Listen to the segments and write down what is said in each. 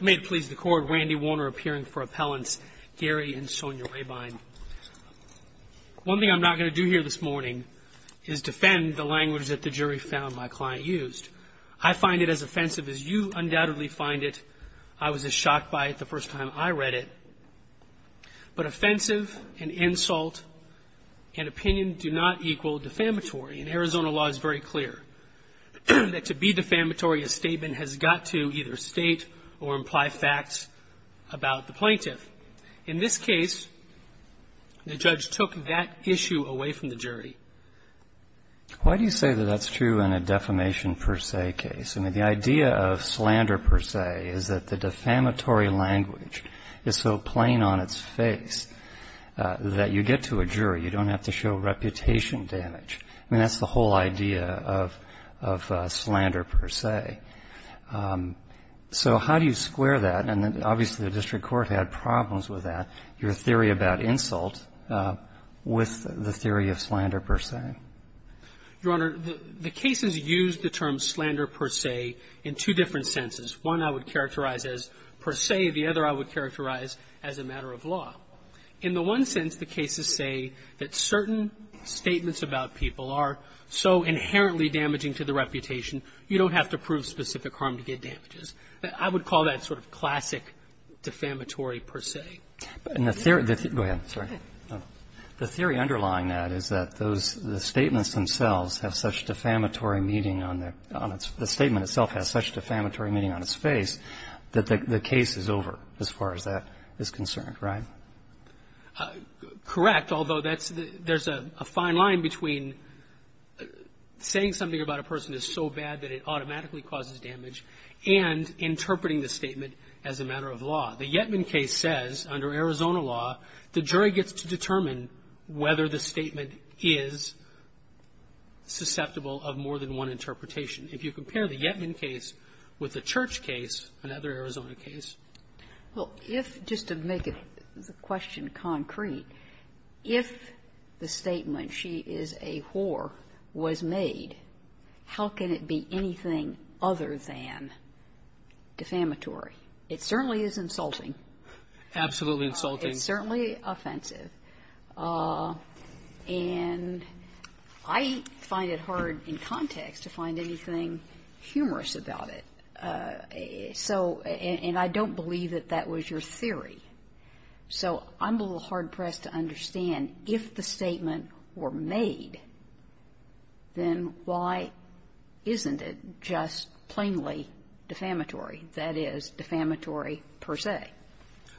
May it please the Court, Randy Warner appearing for appellants Gary and Sonia Rabine. One thing I'm not going to do here this morning is defend the language that the jury found my client used. I find it as offensive as you undoubtedly find it. I was as shocked by it the first time I read it. But offensive and insult and opinion do not equal defamatory. And Arizona law is very clear that to be defamatory, a statement has got to either state or imply facts about the plaintiff. In this case, the judge took that issue away from the jury. Why do you say that that's true in a defamation per se case? I mean, the idea of slander per se is that the defamatory language is so plain on its face that you get to a jury. You don't have to show reputation damage. I mean, that's the whole idea of slander per se. So how do you square that? And obviously the district court had problems with that, your theory about insult with the theory of slander per se. Your Honor, the cases use the term slander per se in two different senses. One I would characterize as per se. The other I would characterize as a matter of law. In the one sense, the cases say that certain statements about people are so inherently damaging to the reputation, you don't have to prove specific harm to get damages. I would call that sort of classic defamatory per se. Go ahead. Sorry. The theory underlying that is that those statements themselves have such defamatory meaning on their own. The statement itself has such defamatory meaning on its face that the case is over as far as that is concerned, right? Correct, although that's the – there's a fine line between saying something about a person is so bad that it automatically causes damage and interpreting the statement as a matter of law. The Yetman case says under Arizona law, the jury gets to determine whether the statement is susceptible of more than one interpretation. If you compare the Yetman case with the Church case, another Arizona case. Well, if, just to make the question concrete, if the statement, she is a whore, was made, how can it be anything other than defamatory? It certainly is insulting. Absolutely insulting. It's certainly offensive. And I find it hard in context to find anything humorous about it. So – and I don't believe that that was your theory. So I'm a little hard-pressed to understand, if the statement were made, then why isn't it just plainly defamatory? That is, defamatory per se.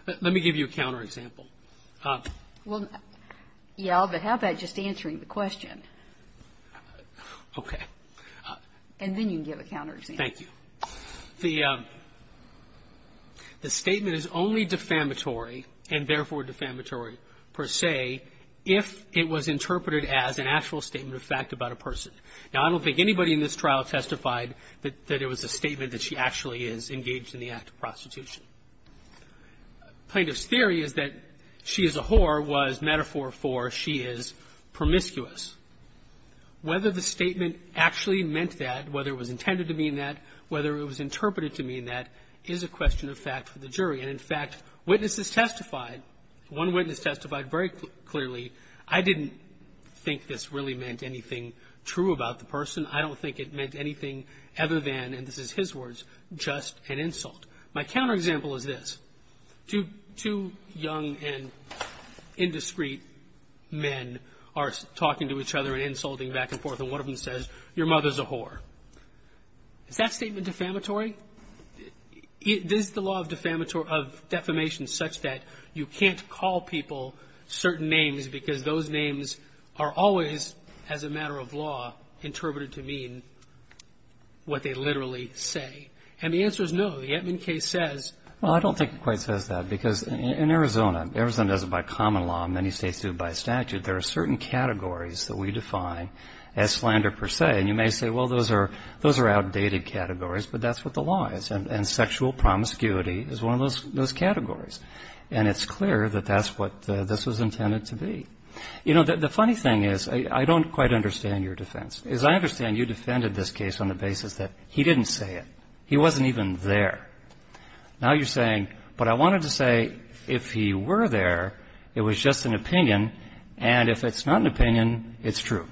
Let me give you a counterexample. Well, yeah, but how about just answering the question? Okay. And then you can give a counterexample. Thank you. The statement is only defamatory, and therefore defamatory per se, if it was interpreted as an actual statement of fact about a person. Now, I don't think anybody in this trial testified that it was a statement that she actually is engaged in the act of prostitution. Plaintiff's theory is that she is a whore was metaphor for she is promiscuous. Whether the statement actually meant that, whether it was intended to mean that, whether it was interpreted to mean that, is a question of fact for the jury. And, in fact, witnesses testified. One witness testified very clearly, I didn't think this really meant anything true about the person. I don't think it meant anything other than, and this is his words, just an insult. My counterexample is this. Two young and indiscreet men are talking to each other and insulting back and forth, and one of them says, your mother's a whore. Is that statement defamatory? Is the law of defamation such that you can't call people certain names because those names are always, as a matter of law, interpreted to mean what they literally say? And the answer is no. The Antman case says that. Well, I don't think it quite says that, because in Arizona, Arizona does it by common law. Many states do it by statute. There are certain categories that we define as slander per se, and you may say, well, those are outdated categories, but that's what the law is. And sexual promiscuity is one of those categories. And it's clear that that's what this was intended to be. You know, the funny thing is, I don't quite understand your defense. As I understand, you defended this case on the basis that he didn't say it. He wasn't even there. Now you're saying, but I wanted to say if he were there, it was just an opinion, and if it's not an opinion, it's true.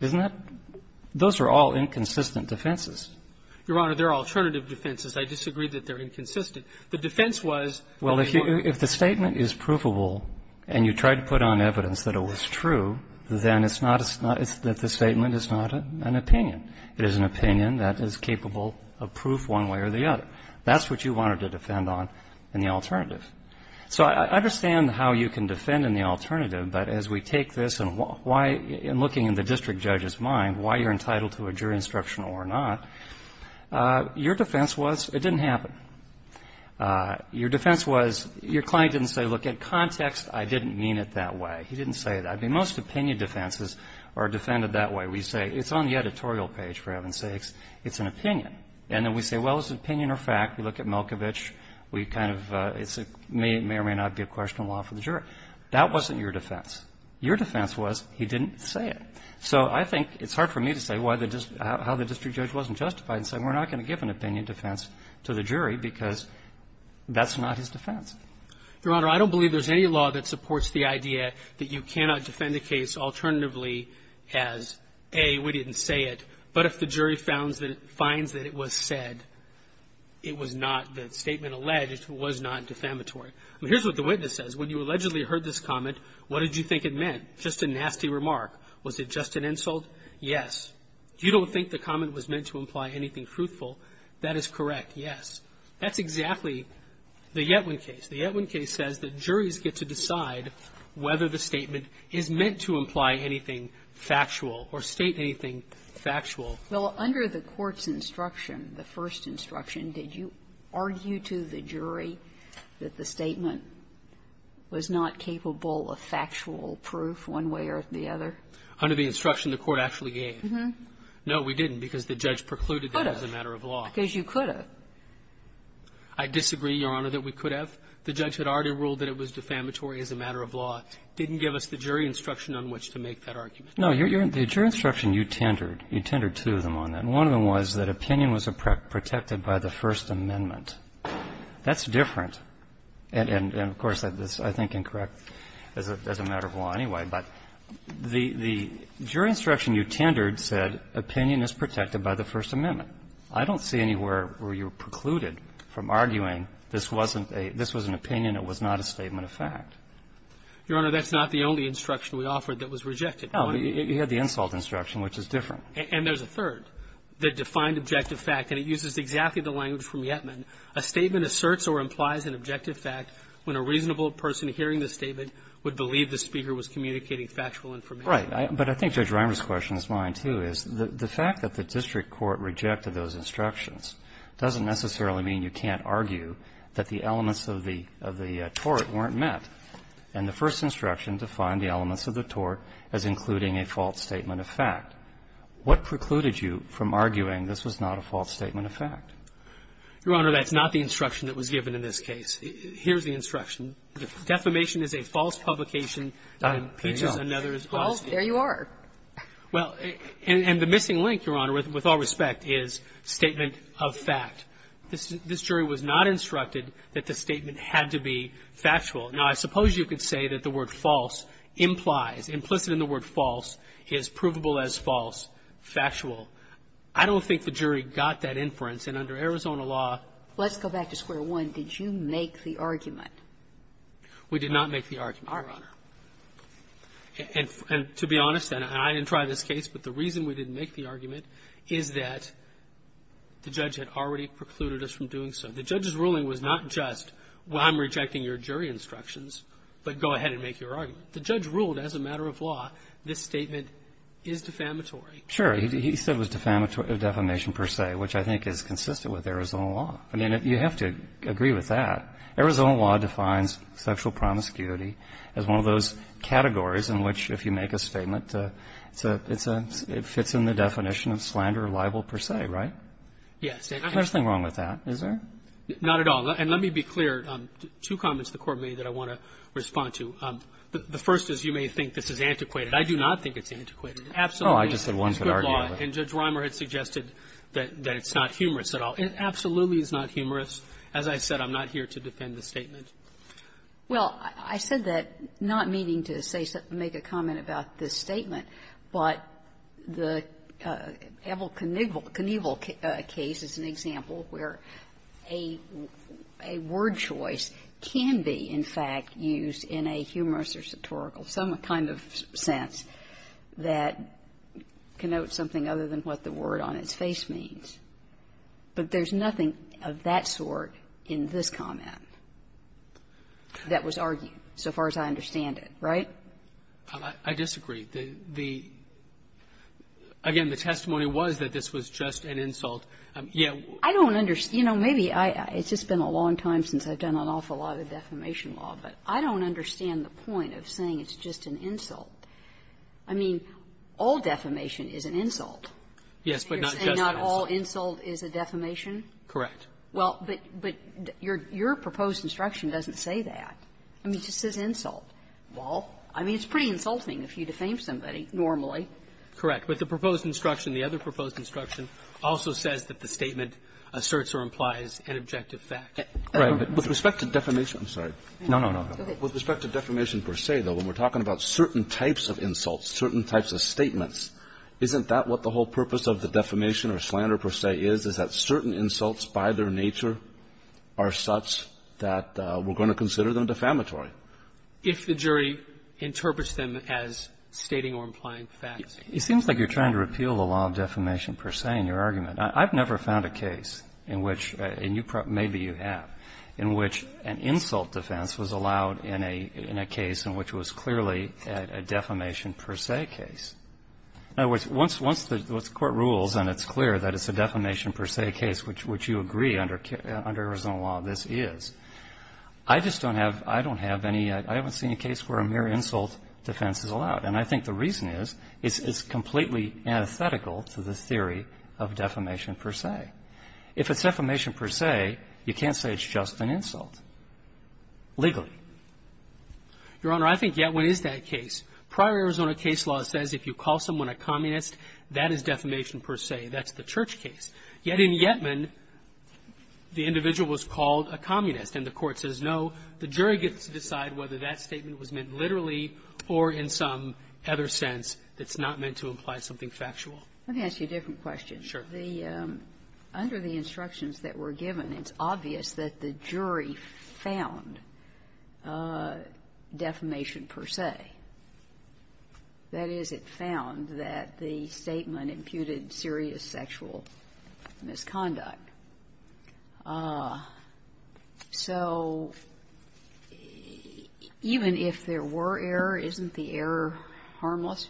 Isn't that? Those are all inconsistent defenses. Your Honor, they're alternative defenses. I disagree that they're inconsistent. The defense was that they weren't. Well, if the statement is provable and you tried to put on evidence that it was true, then it's not that the statement is not an opinion. It is an opinion that is capable of proof one way or the other. That's what you wanted to defend on in the alternative. So I understand how you can defend in the alternative, but as we take this and why, in looking in the district judge's mind, why you're entitled to a jury instruction or not, your defense was it didn't happen. Your defense was your client didn't say, look, in context, I didn't mean it that way. He didn't say that. I mean, most opinion defenses are defended that way. We say it's on the editorial page, for heaven's sakes. It's an opinion. And then we say, well, it's an opinion or fact. We look at Milkovich. We kind of say it may or may not be a question of law for the jury. That wasn't your defense. Your defense was he didn't say it. So I think it's hard for me to say how the district judge wasn't justified in saying we're not going to give an opinion defense to the jury because that's not his defense. Your Honor, I don't believe there's any law that supports the idea that you cannot defend a case alternatively as, A, we didn't say it. But if the jury finds that it was said, it was not the statement alleged, it was not defamatory. I mean, here's what the witness says. When you allegedly heard this comment, what did you think it meant? Just a nasty remark. Was it just an insult? Yes. You don't think the comment was meant to imply anything truthful. That is correct. Yes. That's exactly the Yetwin case. The Yetwin case says that juries get to decide whether the statement is meant to imply anything factual or state anything factual. Well, under the Court's instruction, the first instruction, did you argue to the jury that the statement was not capable of factual proof one way or the other? Under the instruction the Court actually gave. No, we didn't, because the judge precluded it as a matter of law. And the jury said, I think you're as correct as you could have. I disagree, Your Honor, that we could have. The judge had already ruled that it was defamatory as a matter of law, didn't give us the jury instruction on which to make that argument. No, the jury instruction you tendered, you tendered two of them on that. One of them was that opinion was protected by the First Amendment. That's different. And of course, that's, I think, incorrect as a matter of law anyway. But the jury instruction you tendered said opinion is protected by the First Amendment. I don't see anywhere where you precluded from arguing this wasn't a, this was an opinion. It was not a statement of fact. Your Honor, that's not the only instruction we offered that was rejected. No. You had the insult instruction, which is different. And there's a third that defined objective fact, and it uses exactly the language from Yetman. A statement asserts or implies an objective fact when a reasonable person hearing the statement would believe the speaker was communicating factual information. Right. But I think Judge Reimer's question is mine, too, is the fact that the district court rejected those instructions doesn't necessarily mean you can't argue that the elements of the tort weren't met. And the first instruction defined the elements of the tort as including a false statement of fact. What precluded you from arguing this was not a false statement of fact? Your Honor, that's not the instruction that was given in this case. Here's the instruction. Defamation is a false publication. It impeaches another's honesty. Well, there you are. Well, and the missing link, Your Honor, with all respect, is statement of fact. This jury was not instructed that the statement had to be factual. Now, I suppose you could say that the word false implies, implicit in the word false, is provable as false, factual. I don't think the jury got that inference. And under Arizona law --" Let's go back to square one. Did you make the argument? We did not make the argument, Your Honor. And to be honest, and I didn't try this case, but the reason we didn't make the argument is that the judge had already precluded us from doing so. The judge's ruling was not just, well, I'm rejecting your jury instructions, but go ahead and make your argument. The judge ruled as a matter of law this statement is defamatory. Sure. He said it was defamation per se, which I think is consistent with Arizona law. I mean, you have to agree with that. Arizona law defines sexual promiscuity as one of those categories in which if you make a statement, it's a --" it fits in the definition of slander or libel per se, right? Yes. There's nothing wrong with that, is there? Not at all. And let me be clear. Two comments the Court made that I want to respond to. The first is you may think this is antiquated. I do not think it's antiquated. Absolutely. Oh, I just said one could argue with it. And Judge Rimer had suggested that it's not humorous at all. It absolutely is not humorous. As I said, I'm not here to defend the statement. Well, I said that not meaning to say something, make a comment about this statement, but the Evel Knievel case is an example where a word choice can be, in fact, used in a humorous or sartorical, some kind of sense that connotes something other than what the word on its face means. But there's nothing of that sort in this comment that was argued, so far as I understand it, right? I disagree. The — again, the testimony was that this was just an insult. Yeah. I don't understand. You know, maybe I — it's just been a long time since I've done an awful lot of defamation law, but I don't understand the point of saying it's just an insult. Yes, but not just an insult. And not all insult is a defamation? Correct. Well, but your proposed instruction doesn't say that. I mean, it just says insult. Well. I mean, it's pretty insulting if you defame somebody normally. Correct. But the proposed instruction, the other proposed instruction, also says that the statement asserts or implies an objective fact. Right. But with respect to defamation — I'm sorry. No, no, no. With respect to defamation per se, though, when we're talking about certain types of insults, certain types of statements, isn't that what the whole purpose of the defamation or slander per se is, is that certain insults by their nature are such that we're going to consider them defamatory? If the jury interprets them as stating or implying facts. It seems like you're trying to repeal the law of defamation per se in your argument. I've never found a case in which — and you probably — maybe you have — in which an insult defense was allowed in a case in which it was clearly a defamation per se case. In other words, once the Court rules and it's clear that it's a defamation per se case, which you agree under Arizona law this is, I just don't have — I don't have any — I haven't seen a case where a mere insult defense is allowed. And I think the reason is it's completely antithetical to the theory of defamation per se. If it's defamation per se, you can't say it's just an insult legally. Your Honor, I think Yetman is that case. Prior Arizona case law says if you call someone a communist, that is defamation per se. That's the Church case. Yet in Yetman, the individual was called a communist, and the Court says no. The jury gets to decide whether that statement was meant literally or in some other sense that's not meant to imply something factual. Let me ask you a different question. Sure. The — under the instructions that were given, it's obvious that the jury found defamation per se. That is, it found that the statement imputed serious sexual misconduct. So even if there were error, isn't the error harmless?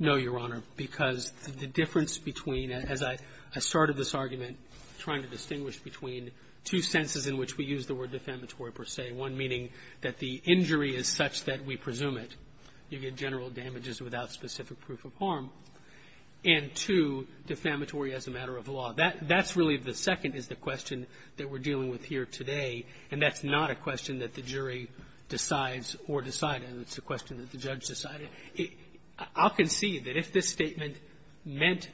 No, Your Honor, because the difference between — as I started this argument trying to distinguish between two senses in which we use the word defamatory per se, one meaning that the injury is such that we presume it, you get general damages without specific proof of harm, and two, defamatory as a matter of law. That's really the second is the question that we're dealing with here today, and that's not a question that the jury decides or decided. It's a question that the judge decided. I'll concede that if this statement meant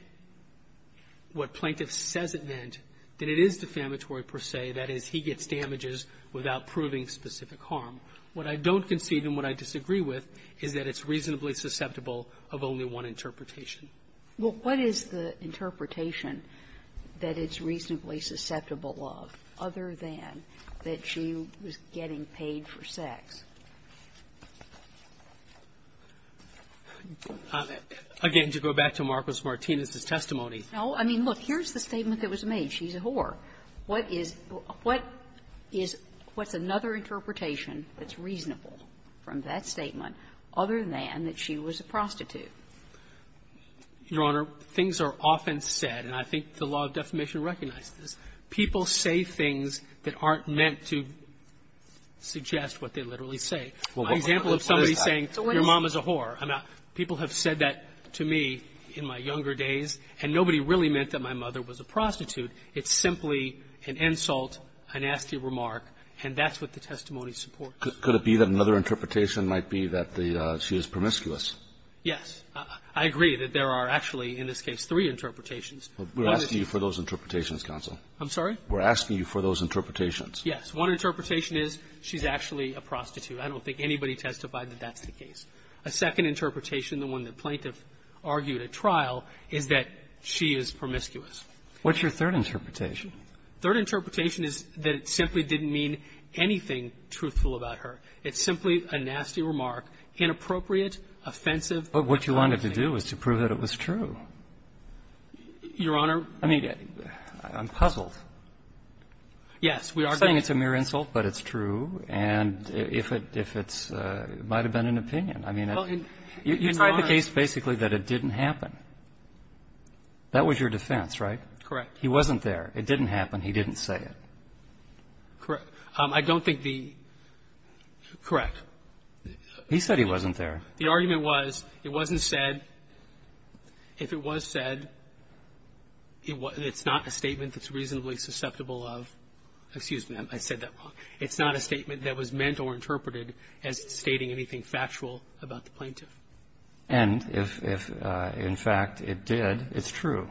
what plaintiff says it meant, that it is defamatory per se. That is, he gets damages without proving specific harm. What I don't concede and what I disagree with is that it's reasonably susceptible of only one interpretation. Well, what is the interpretation that it's reasonably susceptible of, other than that she was getting paid for sex? Again, to go back to Marcus Martinez's testimony. No. I mean, look, here's the statement that was made. She's a whore. What is — what is — what's another interpretation that's reasonable from that statement other than that she was a prostitute? Your Honor, things are often said, and I think the law of defamation recognizes this, people say things that aren't meant to suggest what they literally say. My example of somebody saying, your mom is a whore, I'm not — people have said that to me in my younger days, and nobody really meant that my mother was a prostitute. It's simply an insult, a nasty remark, and that's what the testimony supports. Could it be that another interpretation might be that the — she was promiscuous? Yes. I agree that there are actually, in this case, three interpretations. We're asking you for those interpretations, counsel. I'm sorry? We're asking you for those interpretations. Yes. One interpretation is she's actually a prostitute. I don't think anybody testified that that's the case. A second interpretation, the one that plaintiff argued at trial, is that she is promiscuous. What's your third interpretation? Third interpretation is that it simply didn't mean anything truthful about her. It's simply a nasty remark, inappropriate, offensive. But what you wanted to do was to prove that it was true. Your Honor — I mean, I'm puzzled. Yes. We are going to — You're saying it's a mere insult, but it's true, and if it's — it might have been an opinion. I mean, you tried the case basically that it didn't happen. That was your defense, right? Correct. He wasn't there. It didn't happen. He didn't say it. Correct. I don't think the — correct. He said he wasn't there. The argument was it wasn't said. If it was said, it's not a statement that's reasonably susceptible of — excuse me, I said that wrong. It's not a statement that was meant or interpreted as stating anything factual about the plaintiff. And if, in fact, it did, it's true.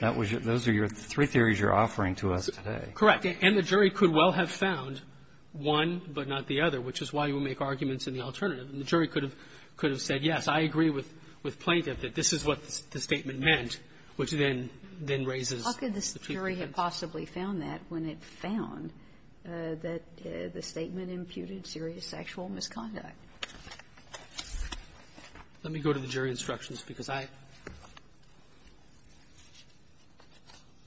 That was your — those are your three theories you're offering to us today. Correct. And the jury could well have found one but not the other, which is why you would make arguments in the alternative. And the jury could have — could have said, yes, I agree with plaintiff that this is what the statement meant, which then raises the people's heads. How could the jury have possibly found that when it found that the statement imputed serious sexual misconduct? Let me go to the jury instructions because I —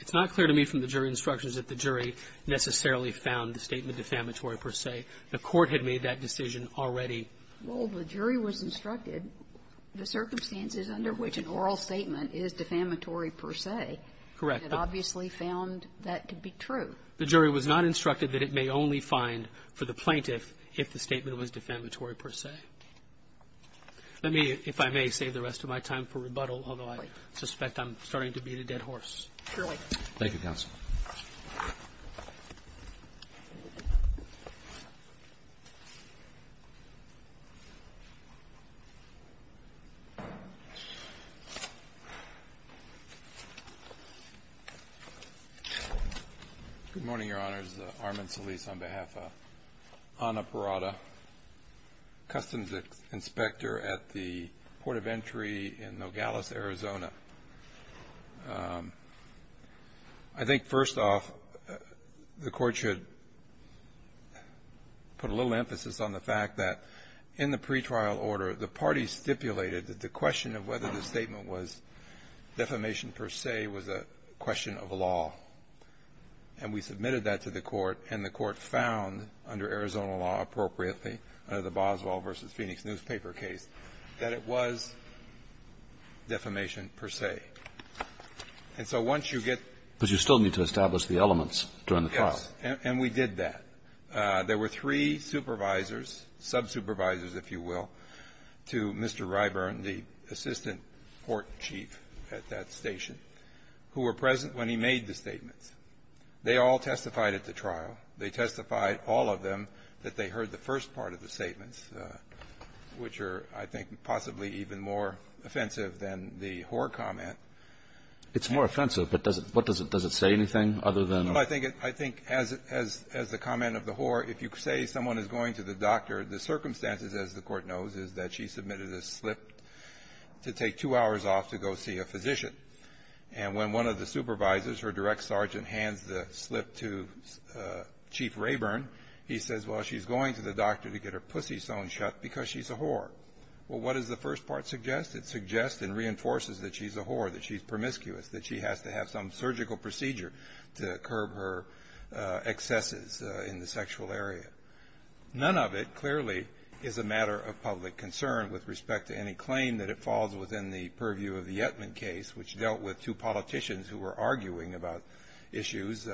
it's not clear to me from the jury instructions that the jury necessarily found the statement defamatory per se. The Court had made that decision already. Well, the jury was instructed the circumstances under which an oral statement is defamatory per se. Correct. It obviously found that to be true. The jury was not instructed that it may only find for the plaintiff if the statement was defamatory per se. Let me, if I may, save the rest of my time for rebuttal, although I suspect I'm starting to beat a dead horse. Surely. Thank you, counsel. Good morning, Your Honors. Armin Solis on behalf of Ana Parada, customs inspector at the Port of Entry in Nogales, Arizona. I think, first off, the Court should put a little emphasis on the fact that in the pretrial order, the parties stipulated that the question of whether the statement was defamation per se was a question of law. And we submitted that to the Court, and the Court found, under Arizona law appropriately, under the Boswell v. Phoenix newspaper case, that it was defamation per se. And so once you get the – But you still need to establish the elements during the trial. Yes. And we did that. There were three supervisors, sub-supervisors, if you will, to Mr. Ryburn, the assistant court chief at that station, who were present when he made the statements. They all testified at the trial. They testified, all of them, that they heard the first part of the statements, which are, I think, possibly even more offensive than the Hoar comment. It's more offensive, but does it say anything other than – Well, I think as the comment of the Hoar, if you say someone is going to the doctor, the circumstances, as the Court knows, is that she submitted a slip to take two hours off to go see a physician. And when one of the supervisors, her direct sergeant, hands the slip to Chief Ryburn, he says, well, she's going to the doctor to get her pussy sewn shut because she's a Hoar. Well, what does the first part suggest? It suggests and reinforces that she's a Hoar, that she's promiscuous, that she has to have some surgical procedure to curb her excesses in the sexual area. None of it, clearly, is a matter of public concern with respect to any claim that it dealt with two politicians who were arguing about issues,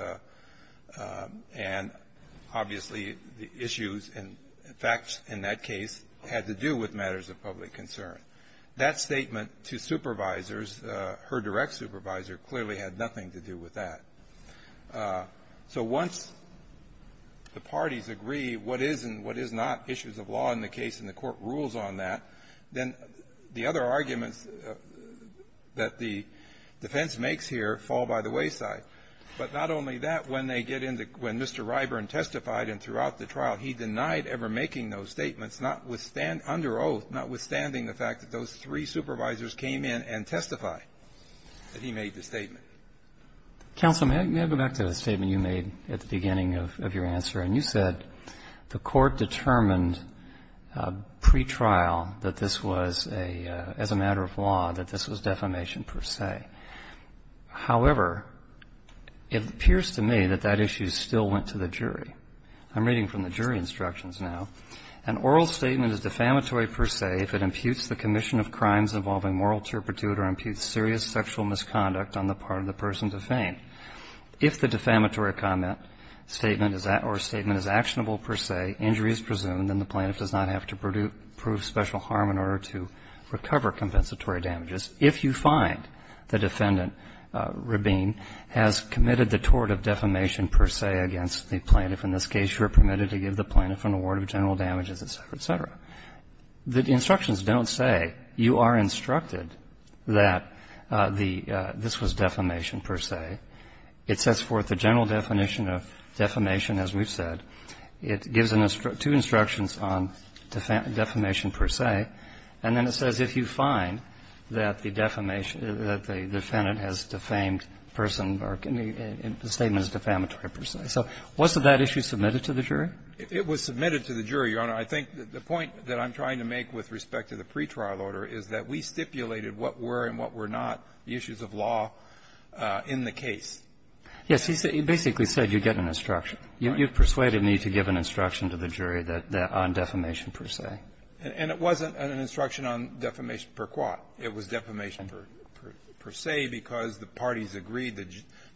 and, obviously, the issues and facts in that case had to do with matters of public concern. That statement to supervisors, her direct supervisor, clearly had nothing to do with that. So once the parties agree what is and what is not issues of law in the case, and the defense makes here, fall by the wayside. But not only that, when they get into the question, Mr. Ryburn testified, and throughout the trial, he denied ever making those statements, not withstand under oath, not withstanding the fact that those three supervisors came in and testified that he made the statement. Counsel, may I go back to the statement you made at the beginning of your answer? And you said the Court determined pretrial that this was a, as a matter of law, that this was defamation per se. However, it appears to me that that issue still went to the jury. I'm reading from the jury instructions now. An oral statement is defamatory per se if it imputes the commission of crimes involving moral turpitude or imputes serious sexual misconduct on the part of the person defamed. If the defamatory comment or statement is actionable per se, injury is presumed, then the plaintiff does not have to prove special harm in order to recover compensatory damages if you find the defendant, Rabin, has committed the tort of defamation per se against the plaintiff. In this case, you are permitted to give the plaintiff an award of general damages, et cetera, et cetera. The instructions don't say you are instructed that the this was defamation per se. It sets forth the general definition of defamation, as we've said. It gives two instructions on defamation per se, and then it says if you find the defendant has defamed a person, the statement is defamatory per se. So wasn't that issue submitted to the jury? It was submitted to the jury, Your Honor. I think the point that I'm trying to make with respect to the pretrial order is that we stipulated what were and what were not the issues of law in the case. Yes. He basically said you get an instruction. You persuaded me to give an instruction to the jury on defamation per se. And it wasn't an instruction on defamation per quat. It was defamation per se because the parties agreed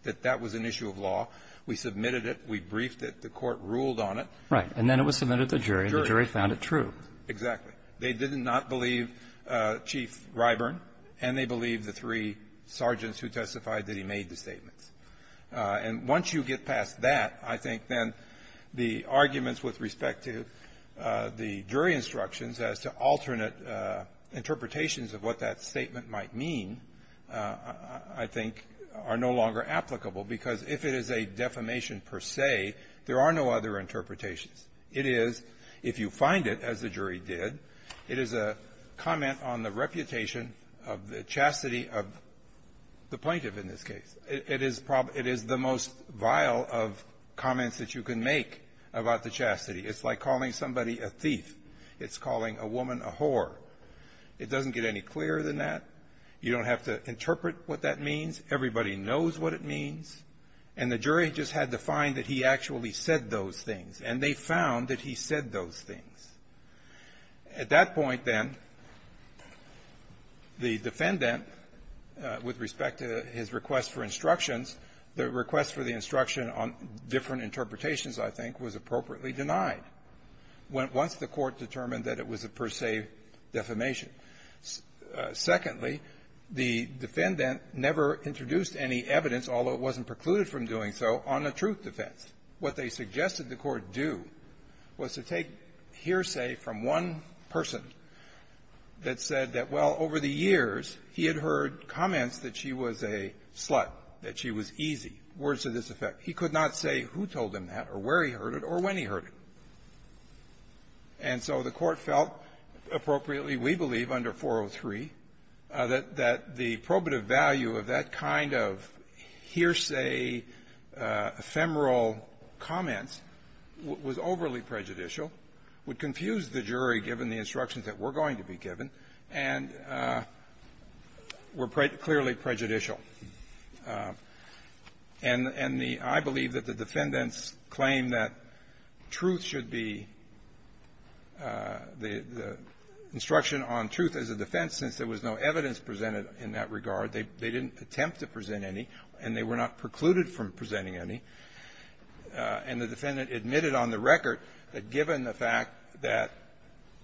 that that was an issue of law. We submitted it. We briefed it. The Court ruled on it. Right. And then it was submitted to the jury. The jury found it true. Exactly. They did not believe Chief Ryburn, and they believed the three sergeants who testified that he made the statements. And once you get past that, I think then the arguments with respect to the jury instructions as to alternate interpretations of what that statement might mean, I think, are no longer applicable, because if it is a defamation per se, there are no other interpretations. It is, if you find it, as the jury did, it is a comment on the reputation of the chastity of the plaintiff in this case. It is the most vile of comments that you can make about the chastity. It's like calling somebody a thief. It's calling a woman a whore. It doesn't get any clearer than that. You don't have to interpret what that means. Everybody knows what it means. And the jury just had to find that he actually said those things. And they found that he said those things. At that point, then, the defendant, with respect to his request for instructions, the request for the instruction on different interpretations, I think, was appropriately denied. Once the Court determined that it was a per se defamation. Secondly, the defendant never introduced any evidence, although it wasn't precluded from doing so, on a truth defense. What they suggested the Court do was to take hearsay from one person that said that, well, over the years, he had heard comments that she was a slut, that she was easy, words to this effect. He could not say who told him that or where he heard it or when he heard it. And so the Court felt appropriately, we believe, under 403, that the probative value of that kind of hearsay ephemeral comments was overly prejudicial, would confuse the jury given the instructions that were going to be given, and were clearly prejudicial. And the – I believe that the defendants claimed that truth should be – the instruction on truth as a defense, since there was no evidence presented in that regard. They didn't attempt to present any, and they were not precluded from presenting any. And the defendant admitted on the record that given the fact that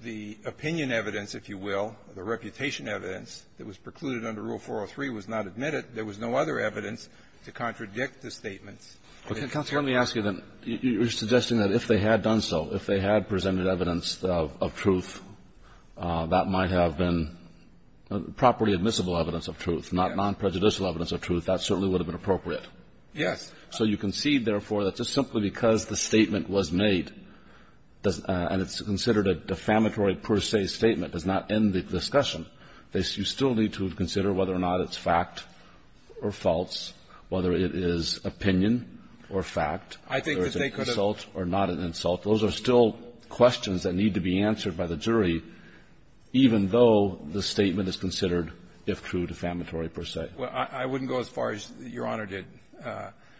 the opinion evidence, if you will, the reputation evidence that was precluded under Rule 403 was not admitted, there was no other evidence to contradict the statements. Kennedy. But, Counselor, let me ask you, you're suggesting that if they had done so, if they had presented evidence of truth, that might have been properly admissible evidence of truth, not non-prejudicial evidence of truth. That certainly would have been appropriate. Yes. So you concede, therefore, that just simply because the statement was made, and it's considered a defamatory per se statement, does not end the discussion. You still need to consider whether or not it's fact or false, whether it is opinion or fact, whether it's an insult or not an insult. Those are still questions that need to be answered by the jury, even though the statement is considered, if true, defamatory per se. Well, I wouldn't go as far as Your Honor did.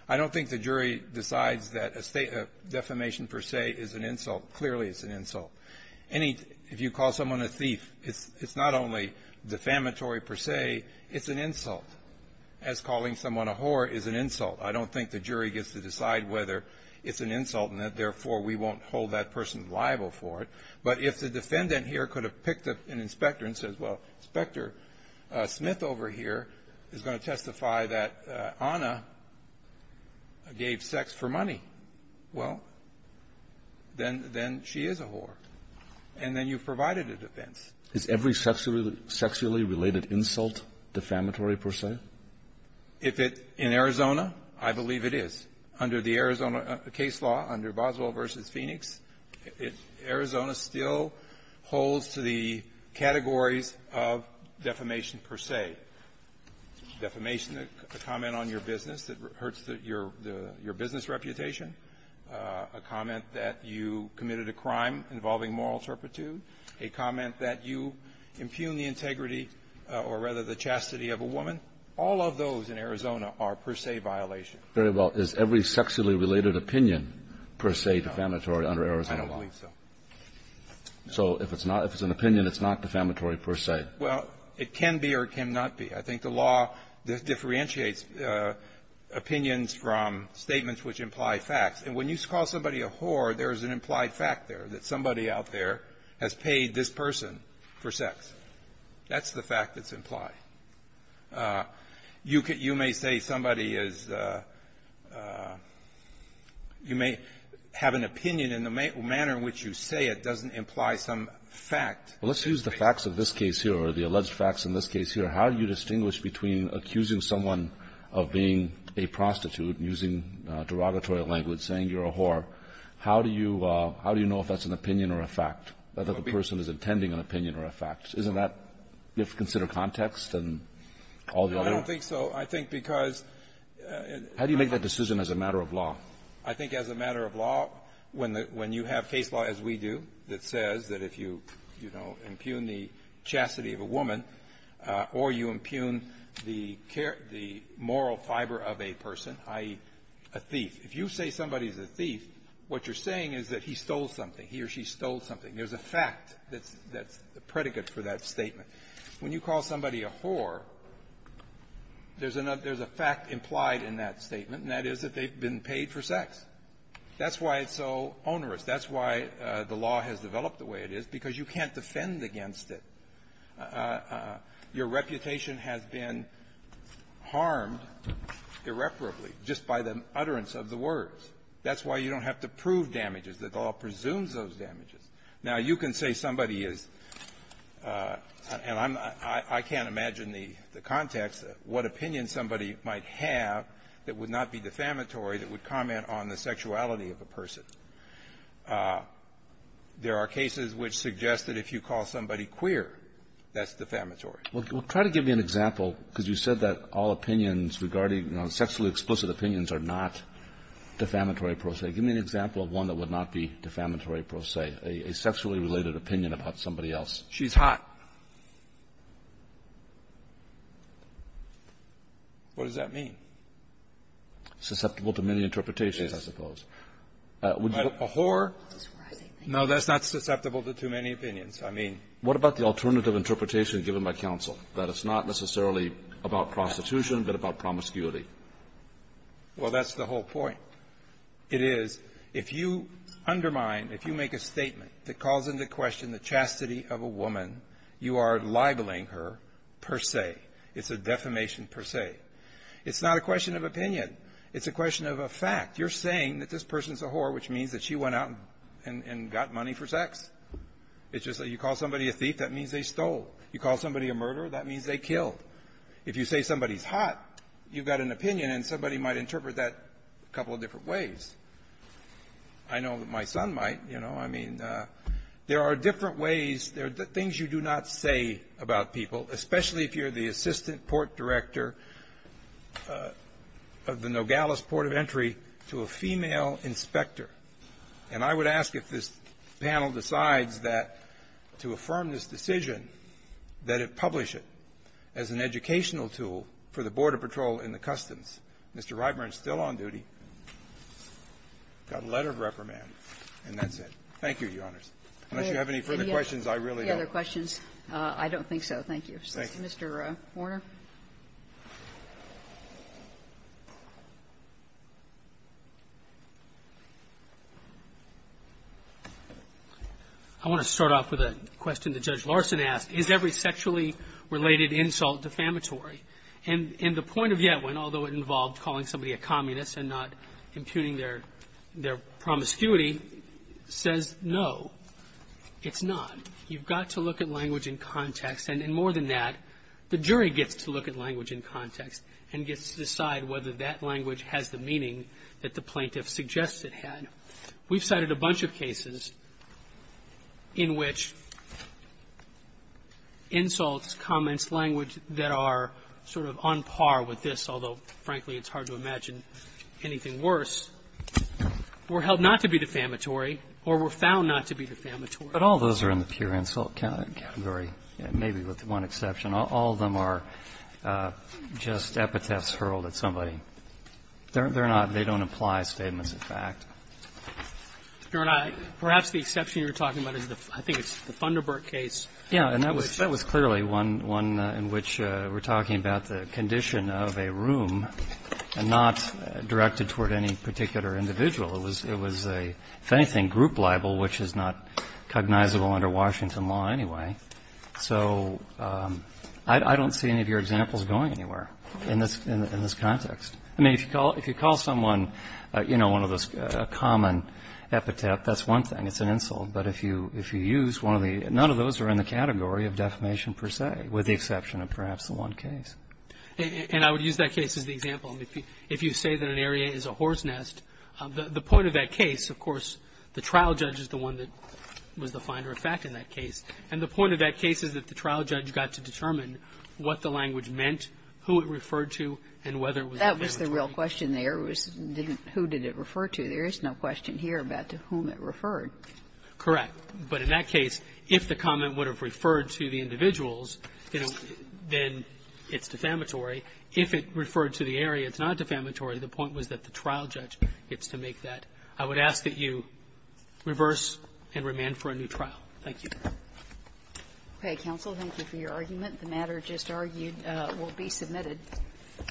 I don't think the jury decides that a defamation per se is an insult. Clearly, it's an insult. Any – if you call someone a thief, it's not only defamatory per se, it's an insult, as calling someone a whore is an insult. I don't think the jury gets to decide whether it's an insult and that, therefore, we won't hold that person liable for it. But if the defendant here could have picked up an inspector and said, well, Inspector Smith over here is going to testify that Anna gave sex for money, well, then she is a whore. And then you've provided a defense. Is every sexually related insult defamatory per se? If it – in Arizona, I believe it is. Under the Arizona case law, under Boswell v. Phoenix, Arizona still holds to the categories of defamation per se. Defamation, a comment on your business that hurts your business reputation, a comment that you committed a crime involving moral turpitude, a comment that you impugn the integrity or, rather, the chastity of a woman, all of those in Arizona are per se violations. Very well. Is every sexually related opinion per se defamatory under Arizona law? I don't believe so. So if it's not – if it's an opinion, it's not defamatory per se? Well, it can be or it cannot be. I think the law differentiates opinions from statements which imply facts. And when you call somebody a whore, there is an implied fact there, that somebody out there has paid this person for sex. That's the fact that's implied. You may say somebody is – you may have an opinion, and the manner in which you say it doesn't imply some fact. Well, let's use the facts of this case here or the alleged facts in this case here. How do you distinguish between accusing someone of being a prostitute and using derogatory language, saying you're a whore? How do you – how do you know if that's an opinion or a fact, that the person is intending an opinion or a fact? Isn't that – you have to consider context and all the other – No, I don't think so. I think because – How do you make that decision as a matter of law? I think as a matter of law, when you have case law, as we do, that says that if you impugn the chastity of a woman or you impugn the moral fiber of a person, i.e., a thief, if you say somebody is a thief, what you're saying is that he stole something. He or she stole something. There's a fact that's a predicate for that statement. When you call somebody a whore, there's a fact implied in that statement, and that is that they've been paid for sex. That's why it's so onerous. That's why the law has developed the way it is, because you can't defend against it. Your reputation has been harmed irreparably just by the utterance of the words. That's why you don't have to prove damages. The law presumes those damages. Now, you can say somebody is – and I'm – I can't imagine the context, what opinion somebody might have that would not be defamatory, that would comment on the sexuality of a person. There are cases which suggest that if you call somebody queer, that's defamatory. Well, try to give me an example, because you said that all opinions regarding – sexually explicit opinions are not defamatory, per se. Give me an example of one that would not be defamatory, per se, a sexually related opinion about somebody else. She's hot. What does that mean? Susceptible to many interpretations. Yes. I suppose. But a whore, no, that's not susceptible to too many opinions. I mean – What about the alternative interpretation given by counsel, that it's not necessarily about prostitution, but about promiscuity? Well, that's the whole point. It is, if you undermine, if you make a statement that calls into question the chastity of a woman, you are libeling her, per se. It's a defamation, per se. It's not a question of opinion. It's a question of a fact. You're saying that this person's a whore, which means that she went out and got money for sex. It's just that you call somebody a thief, that means they stole. You call somebody a murderer, that means they killed. If you say somebody's hot, you've got an opinion, and somebody might interpret that a couple of different ways. I know that my son might, you know. I mean, there are different ways, there are things you do not say about people, especially if you're the assistant port director of the Nogales Port of Entry to a female inspector. And I would ask if this panel decides that, to affirm this decision, that it publish it as an educational tool for the Border Patrol in the Customs. Mr. Reitman is still on duty, got a letter of reprimand, and that's it. Thank you, Your Honors. Unless you have any further questions, I really don't. If you have any further questions, I don't think so. Thank you. Mr. Horner. Horner. I want to start off with a question that Judge Larson asked. Is every sexually related insult defamatory? And the point of Yetwin, although it involved calling somebody a communist and not impugning their promiscuity, says no, it's not. You've got to look at language in context. And more than that, the jury gets to look at language in context and gets to decide whether that language has the meaning that the plaintiff suggests it had. We've cited a bunch of cases in which insults, comments, language that are sort of on par with this, although frankly it's hard to imagine anything worse, were held not to be defamatory or were found not to be defamatory. But all those are in the pure insult category, maybe with one exception. All of them are just epitaphs hurled at somebody. They're not they don't apply statements of fact. Your Honor, perhaps the exception you're talking about is the, I think it's the Funderburg case. Yeah. And that was clearly one in which we're talking about the condition of a room and not directed toward any particular individual. It was a, if anything, group libel, which is not cognizable under Washington law anyway. So I don't see any of your examples going anywhere in this context. I mean, if you call someone, you know, one of those common epitaphs, that's one thing. It's an insult. But if you use one of the none of those are in the category of defamation per se, with the exception of perhaps the one case. And I would use that case as the example. I mean, if you say that an area is a horse nest, the point of that case, of course, the trial judge is the one that was the finder of fact in that case. And the point of that case is that the trial judge got to determine what the language meant, who it referred to, and whether it was defamatory. That was the real question there was didn't, who did it refer to? There is no question here about to whom it referred. Correct. But in that case, if the comment would have referred to the individuals, you know, then it's defamatory. If it referred to the area, it's not defamatory. The point was that the trial judge gets to make that. I would ask that you reverse and remand for a new trial. Thank you. Okay. Counsel, thank you for your argument. The matter just argued will be submitted.